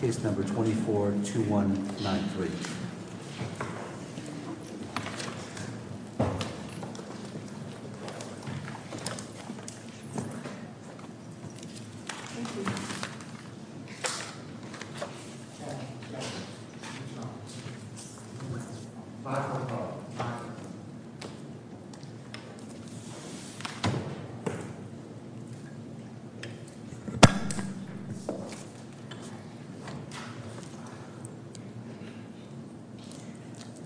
Case No. 24-2193.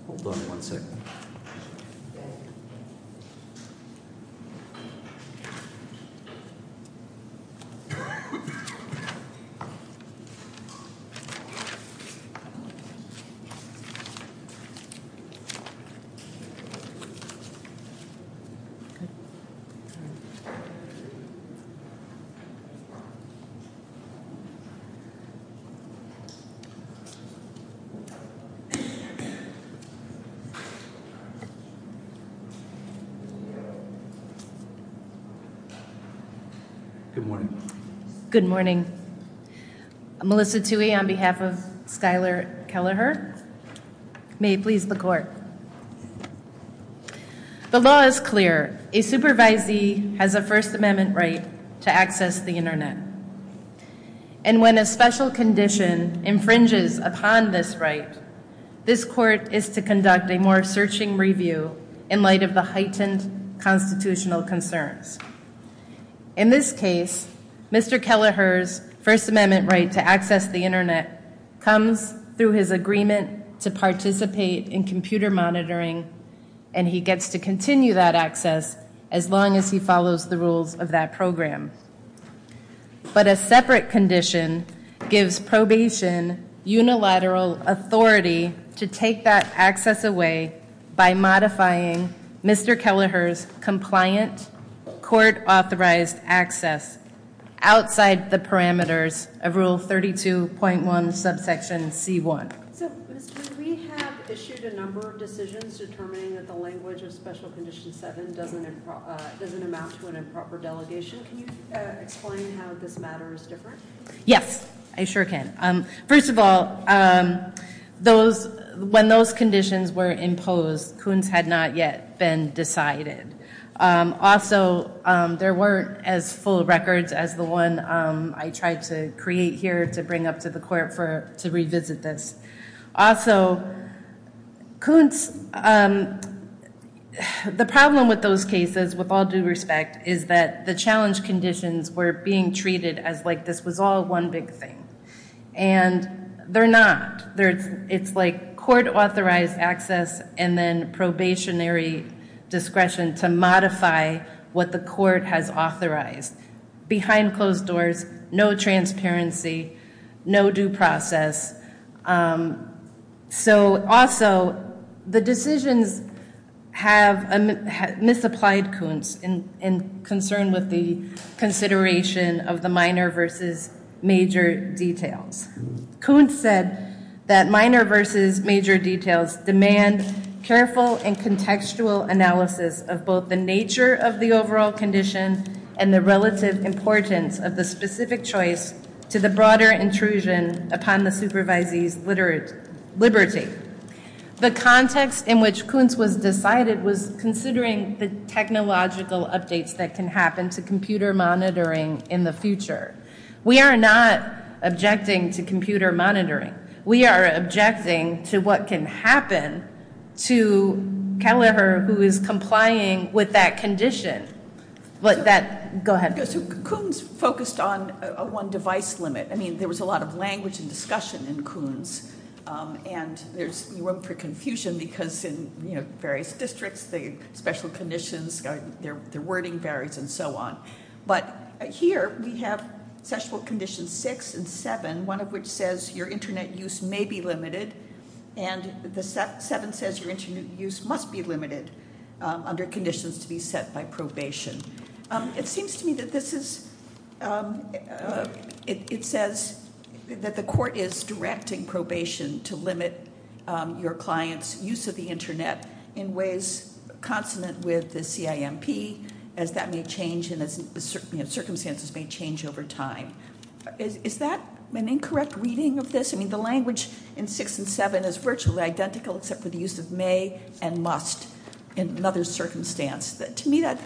Hold on one second. Good morning. Good morning. I'm Melissa Tuohy on behalf of Skylar Keleher. May it please the court. The law is clear. A supervisee has a First Amendment right to access the Internet. And when a special condition infringes upon this right, this court is to conduct a more searching review in light of the heightened constitutional concerns. In this case, Mr. Keleher's First Amendment right to access the Internet comes through his agreement to participate in computer monitoring and he gets to continue that access as long as he follows the rules of that program. But a separate condition gives probation unilateral authority to take that access away by modifying Mr. Keleher's compliant court-authorized access outside the parameters of Rule 32.1, Subsection C-1. So, Ms. Kuhn, we have issued a number of decisions determining that the language of Special Condition 7 doesn't amount to an improper delegation. Can you explain how this matter is different? Yes, I sure can. First of all, when those conditions were imposed, Kuhns had not yet been decided. Also, there weren't as full records as the one I tried to create here to bring up to the court to revisit this. Also, Kuhns, the problem with those cases, with all due respect, is that the challenge conditions were being treated as like this was all one big thing. And they're not. It's like court-authorized access and then probationary discretion to modify what the court has authorized. Behind closed doors, no transparency, no due process. Also, the decisions misapplied Kuhns in concern with the consideration of the minor versus major details. Kuhns said that minor versus major details demand careful and contextual analysis of both the nature of the overall condition and the relative importance of the specific choice to the broader intrusion upon the supervisee's liberty. The context in which Kuhns was decided was considering the technological updates that can happen to computer monitoring in the future. We are not objecting to computer monitoring. We are objecting to what can happen to Kelleher who is complying with that condition. Go ahead. Kuhns focused on a one-device limit. I mean, there was a lot of language and discussion in Kuhns, and there's room for confusion because in various districts, the special conditions, their wording varies and so on. But here we have special conditions 6 and 7, one of which says your Internet use may be limited, and the 7 says your Internet use must be limited under conditions to be set by probation. It seems to me that this is, it says that the court is directing probation to limit your client's use of the Internet in ways consonant with the CIMP, as that may change and as circumstances may change over time. Is that an incorrect reading of this? I mean, the language in 6 and 7 is virtually identical, except for the use of may and must in another circumstance. To me, that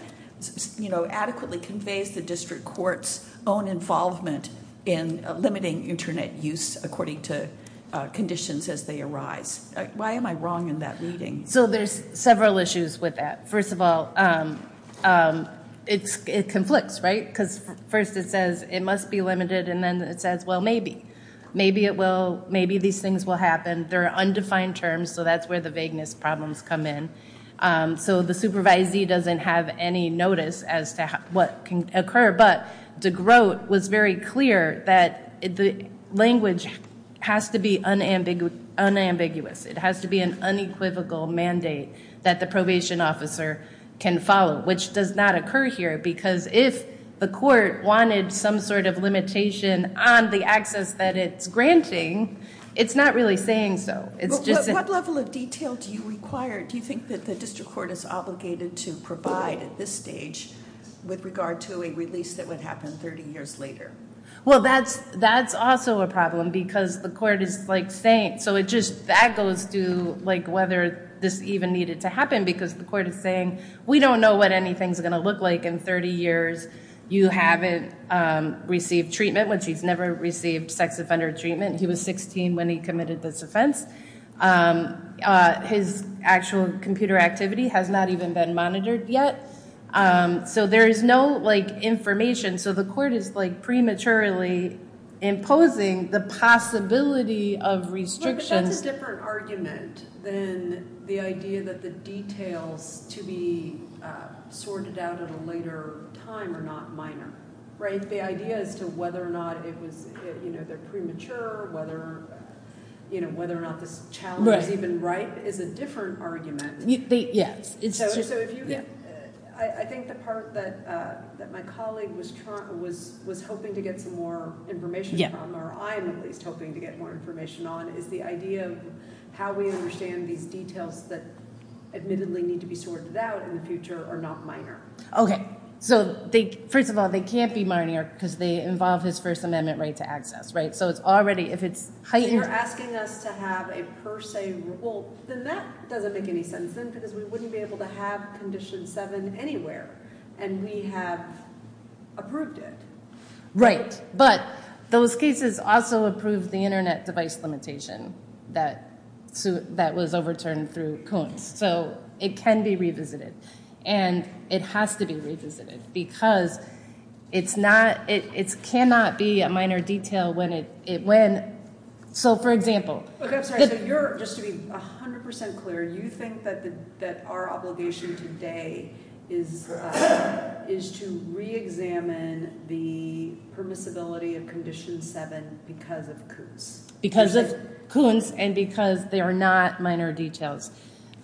adequately conveys the district court's own involvement in limiting Internet use according to conditions as they arise. Why am I wrong in that reading? So there's several issues with that. First of all, it conflicts, right? Because first it says it must be limited, and then it says, well, maybe. Maybe these things will happen. They're undefined terms, so that's where the vagueness problems come in. So the supervisee doesn't have any notice as to what can occur, but DeGroat was very clear that the language has to be unambiguous. It has to be an unequivocal mandate that the probation officer can follow, which does not occur here because if the court wanted some sort of limitation on the access that it's granting, it's not really saying so. What level of detail do you require? Do you think that the district court is obligated to provide at this stage with regard to a release that would happen 30 years later? Well, that's also a problem because the court is, like, saying. So that goes to whether this even needed to happen because the court is saying, we don't know what anything's going to look like in 30 years. You haven't received treatment, which he's never received sex offender treatment. He was 16 when he committed this offense. His actual computer activity has not even been monitored yet. So there is no information. So the court is, like, prematurely imposing the possibility of restrictions. But that's a different argument than the idea that the details to be sorted out at a later time are not minor, right? The idea as to whether or not it was, you know, they're premature, whether or not this challenge is even right is a different argument. Yes. I think the part that my colleague was hoping to get some more information on, or I'm at least hoping to get more information on, is the idea of how we understand these details that admittedly need to be sorted out in the future are not minor. Okay. So first of all, they can't be minor because they involve his First Amendment right to access, right? So it's already, if it's heightened. They're asking us to have a per se rule. Then that doesn't make any sense then because we wouldn't be able to have Condition 7 anywhere, and we have approved it. But those cases also approve the Internet device limitation that was overturned through Coons. So it can be revisited, and it has to be revisited because it cannot be a minor detail when it, so for example. Okay, I'm sorry. So you're, just to be 100% clear, you think that our obligation today is to reexamine the permissibility of Condition 7 because of Coons? Because of Coons and because they are not minor details.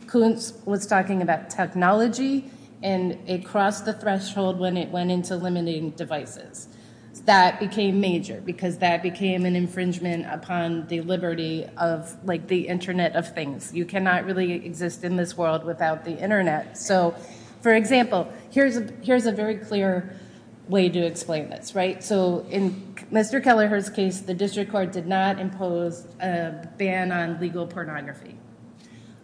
Coons was talking about technology, and it crossed the threshold when it went into limiting devices. That became major because that became an infringement upon the liberty of the Internet of things. You cannot really exist in this world without the Internet. So for example, here's a very clear way to explain this, right? So in Mr. Kelleher's case, the district court did not impose a ban on legal pornography.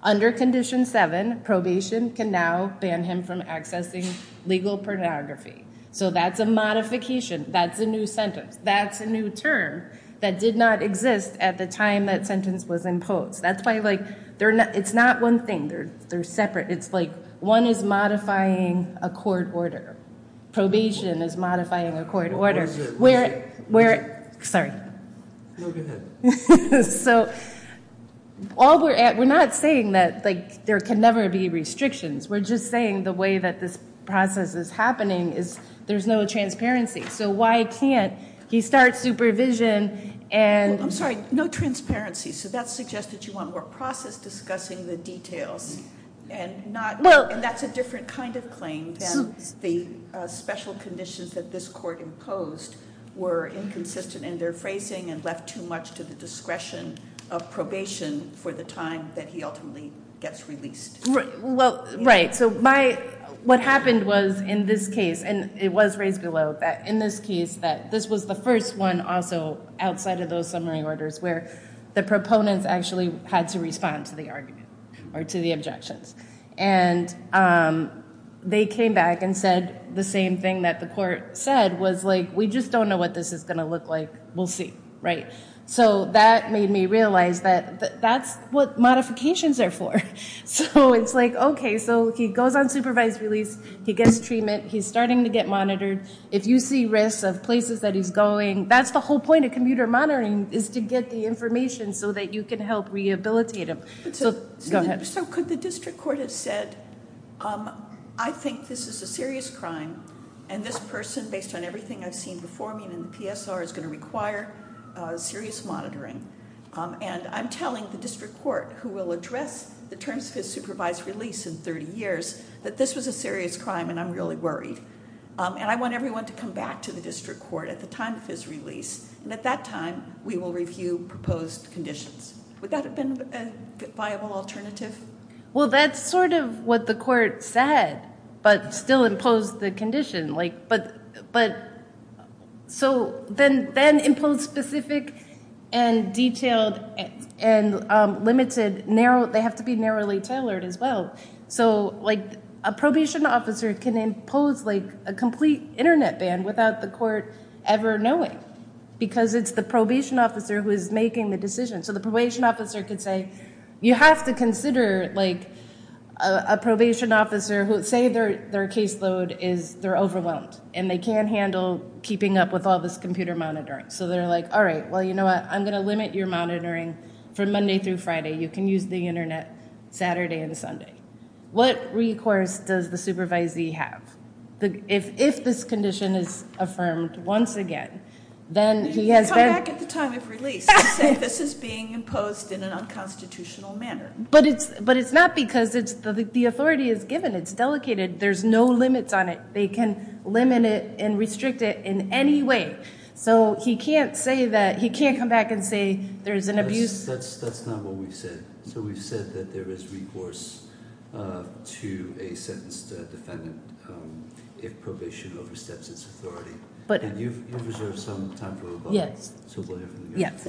Under Condition 7, probation can now ban him from accessing legal pornography. So that's a modification. That's a new sentence. That's a new term that did not exist at the time that sentence was imposed. That's why, like, it's not one thing. They're separate. It's like one is modifying a court order. Probation is modifying a court order. Where, sorry. No, go ahead. So we're not saying that, like, there can never be restrictions. We're just saying the way that this process is happening is there's no transparency. So why can't he start supervision and... No transparency. So that suggests that you want more process discussing the details and that's a different kind of claim than the special conditions that this court imposed were inconsistent in their phrasing and left too much to the discretion of probation for the time that he ultimately gets released. Well, right. So what happened was in this case, and it was raised below, that in this case that this was the first one also outside of those summary orders where the proponents actually had to respond to the argument or to the objections. And they came back and said the same thing that the court said was, like, we just don't know what this is going to look like. We'll see, right? So that made me realize that that's what modifications are for. So it's like, OK, so he goes on supervised release. He gets treatment. He's starting to get monitored. If you see risks of places that he's going, that's the whole point of computer monitoring is to get the information so that you can help rehabilitate him. So could the district court have said, I think this is a serious crime and this person, based on everything I've seen before me in the PSR, is going to require serious monitoring. And I'm telling the district court, who will address the terms of his supervised release in 30 years, that this was a serious crime and I'm really worried. And I want everyone to come back to the district court at the time of his release. And at that time, we will review proposed conditions. Would that have been a viable alternative? Well, that's sort of what the court said, but still imposed the condition. So then imposed specific and detailed and limited, they have to be narrowly tailored as well. So a probation officer can impose a complete internet ban without the court ever knowing because it's the probation officer who is making the decision. So the probation officer could say, you have to consider a probation officer who, say their caseload is they're overwhelmed and they can't handle keeping up with all this computer monitoring. So they're like, all right, well, you know what? I'm going to limit your monitoring from Monday through Friday. You can use the internet Saturday and Sunday. What recourse does the supervisee have? If this condition is affirmed once again, then he has been. He can come back at the time of release and say this is being imposed in an unconstitutional manner. But it's not because the authority is given. It's delegated. There's no limits on it. They can limit it and restrict it in any way. So he can't come back and say there's an abuse. That's not what we've said. So we've said that there is recourse to a sentenced defendant if probation oversteps its authority. But you've reserved some time for rebuttal. Yes. So we'll hear from you. Yes.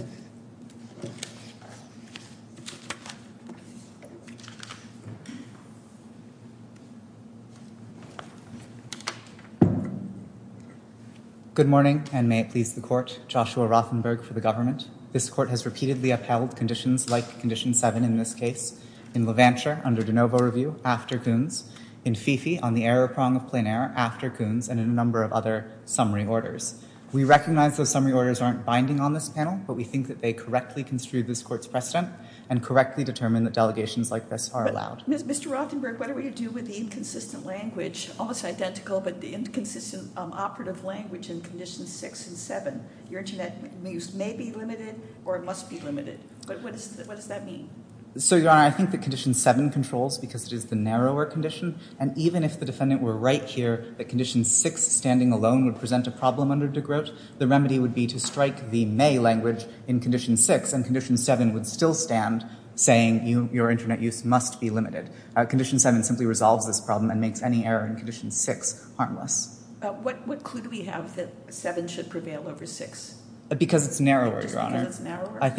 Good morning and may it please the court. Joshua Rothenberg for the government. This court has repeatedly upheld conditions like condition seven in this case, in Levanture under de novo review after Coons, in Fifi on the error prong of plein air after Coons, and in a number of other summary orders. We recognize those summary orders aren't binding on this panel, but we think that they correctly construed this court's precedent and correctly determined that delegations like this are allowed. Mr. Rothenberg, what are we to do with the inconsistent language, almost identical, but the inconsistent operative language in conditions six and seven? Your internet use may be limited or must be limited. But what does that mean? So, Your Honor, I think that condition seven controls because it is the narrower condition, and even if the defendant were right here that condition six standing alone would present a problem under de grote, the remedy would be to strike the may language in condition six, and condition seven would still stand, saying your internet use must be limited. Condition seven simply resolves this problem and makes any error in condition six harmless. What clue do we have that seven should prevail over six? Because it's narrower, Your Honor. Just because it's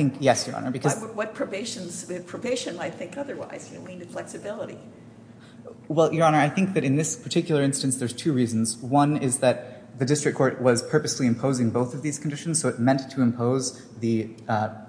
narrower? Yes, Your Honor. What probation might think otherwise? You know, we need flexibility. Well, Your Honor, I think that in this particular instance there's two reasons. One is that the district court was purposely imposing both of these conditions, so it meant to impose the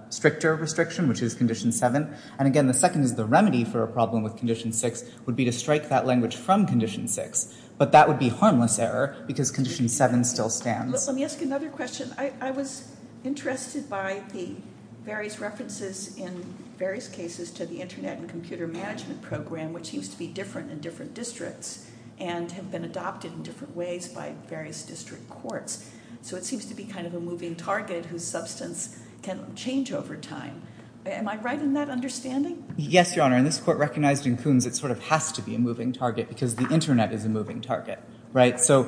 stricter restriction, which is condition seven. And again, the second is the remedy for a problem with condition six would be to strike that language from condition six, but that would be harmless error because condition seven still stands. Let me ask you another question. I was interested by the various references in various cases to the Internet and Computer Management Program, which used to be different in different districts and have been adopted in different ways by various district courts, so it seems to be kind of a moving target whose substance can change over time. Am I right in that understanding? Yes, Your Honor, and this court recognized in Coons it sort of has to be a moving target because the Internet is a moving target, right? So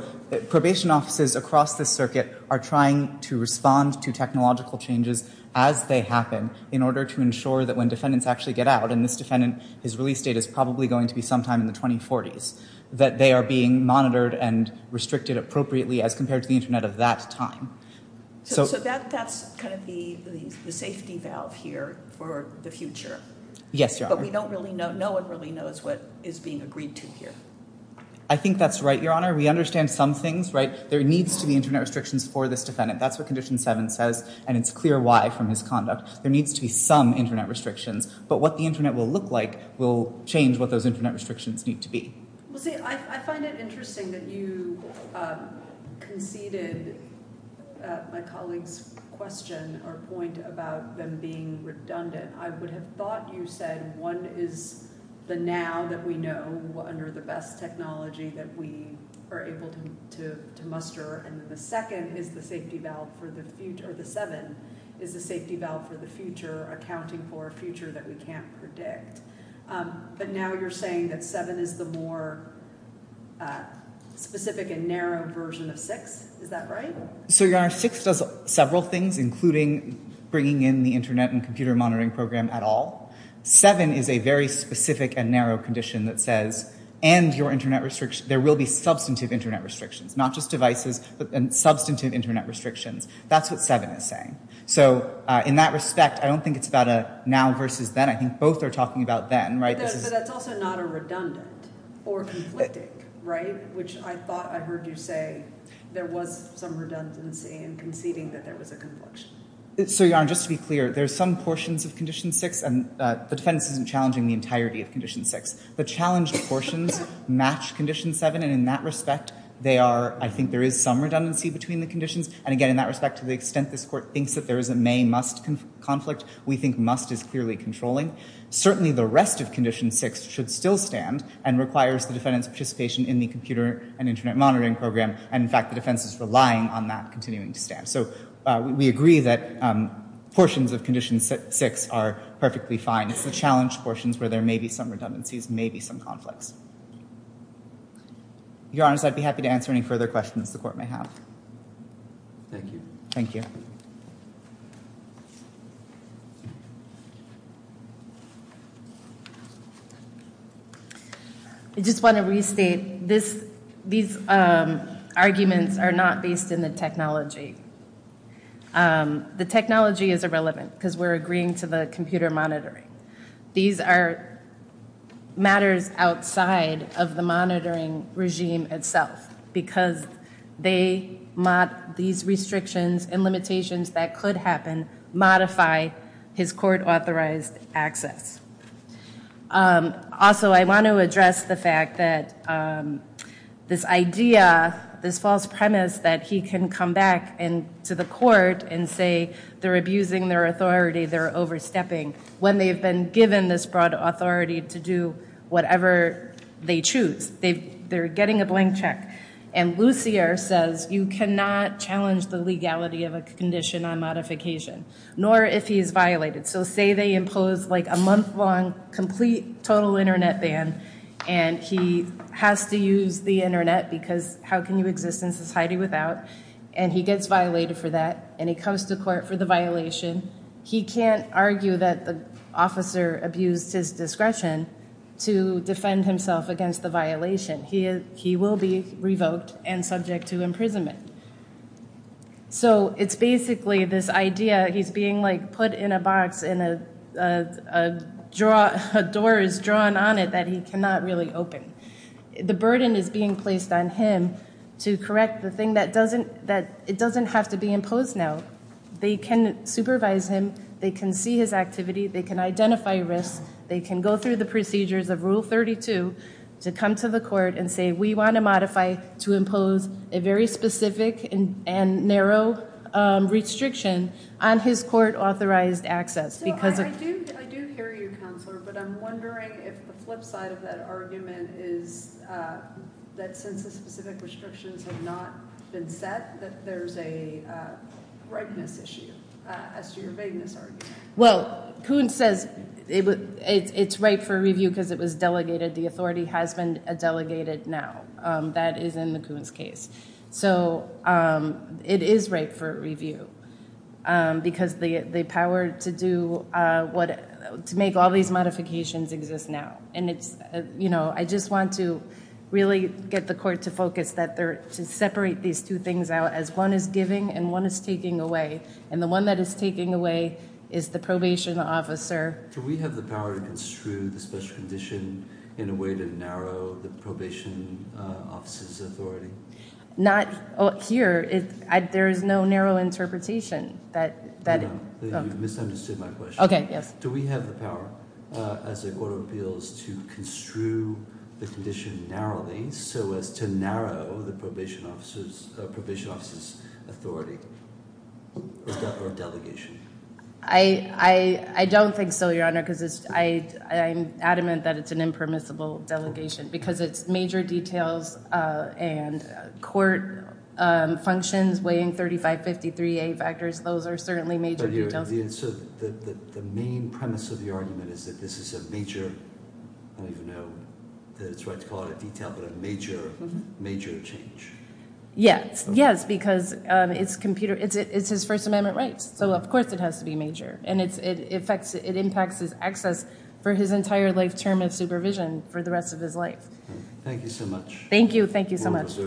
probation offices across the circuit are trying to respond to technological changes as they happen in order to ensure that when defendants actually get out, and this defendant, his release date is probably going to be sometime in the 2040s, that they are being monitored and restricted appropriately as compared to the Internet of that time. So that's kind of the safety valve here for the future. Yes, Your Honor. We don't really know. No one really knows what is being agreed to here. I think that's right, Your Honor. We understand some things, right? There needs to be Internet restrictions for this defendant. That's what Condition 7 says, and it's clear why from his conduct. There needs to be some Internet restrictions, but what the Internet will look like will change what those Internet restrictions need to be. Well, see, I find it interesting that you conceded my colleague's question or point about them being redundant. I would have thought you said one is the now that we know under the best technology that we are able to muster, and then the second is the safety valve for the future, or the 7 is the safety valve for the future, accounting for a future that we can't predict. But now you're saying that 7 is the more specific and narrow version of 6. Is that right? So, Your Honor, 6 does several things, including bringing in the Internet and computer monitoring program at all. 7 is a very specific and narrow condition that says, and your Internet restriction, there will be substantive Internet restrictions, not just devices, but substantive Internet restrictions. That's what 7 is saying. So in that respect, I don't think it's about a now versus then. I think both are talking about then, right? But that's also not a redundant or conflicting, right, which I thought I heard you say there was some redundancy in conceding that there was a confliction. So, Your Honor, just to be clear, there's some portions of Condition 6, and the defense isn't challenging the entirety of Condition 6. The challenged portions match Condition 7, and in that respect, they are, I think there is some redundancy between the conditions, and again, in that respect, to the extent this Court thinks that there is a may-must conflict, we think must is clearly controlling. Certainly the rest of Condition 6 should still stand and requires the defendant's participation in the computer and Internet monitoring program, and in fact, the defense is relying on that continuing to stand. So we agree that portions of Condition 6 are perfectly fine. It's the challenged portions where there may be some redundancies, may be some conflicts. Your Honors, I'd be happy to answer any further questions the Court may have. Thank you. Thank you. I just want to restate, these arguments are not based in the technology. The technology is irrelevant, because we're agreeing to the computer monitoring. These are matters outside of the monitoring regime itself, because these restrictions and limitations that could happen modify his court-authorized access. Also, I want to address the fact that this idea, this false premise that he can come back to the Court and say they're abusing their authority, they're overstepping, when they've been given this broad authority to do whatever they choose. They're getting a blank check. And Lucier says you cannot challenge the legality of a condition on modification, nor if he is violated. So say they impose a month-long complete total Internet ban, and he has to use the Internet, because how can you exist in society without? And he gets violated for that, and he comes to Court for the violation. He can't argue that the officer abused his discretion to defend himself against the violation. He will be revoked and subject to imprisonment. So it's basically this idea, he's being put in a box and a door is drawn on it that he cannot really open. The burden is being placed on him to correct the thing that it doesn't have to be imposed now. They can supervise him, they can see his activity, they can identify risks, they can go through the procedures of Rule 32 to come to the Court and say we want to modify to impose a very specific and narrow restriction on his court-authorized access. So I do hear you, Counselor, but I'm wondering if the flip side of that argument is that since the specific restrictions have not been set, that there's a rightness issue as to your vagueness argument. Well, Kuhn says it's right for review because it was delegated. The authority has been delegated now. That is in the Kuhn's case. So it is right for review because the power to make all these modifications exists now. And I just want to really get the Court to focus to separate these two things out as one is giving and one is taking away. And the one that is taking away is the probation officer. Do we have the power to construe the special condition in a way to narrow the probation officer's authority? Not here. There is no narrow interpretation. You've misunderstood my question. Okay, yes. Do we have the power as the Court of Appeals to construe the condition narrowly so as to narrow the probation officer's authority or delegation? I don't think so, Your Honor, because I'm adamant that it's an impermissible delegation because it's major details and court functions weighing 3553A factors. Those are certainly major details. So the main premise of your argument is that this is a major, I don't even know that it's right to call it a detail, but a major, major change. Yes, because it's his First Amendment rights, so of course it has to be major. And it impacts his access for his entire life term of supervision for the rest of his life. Thank you so much. Thank you. Thank you so much.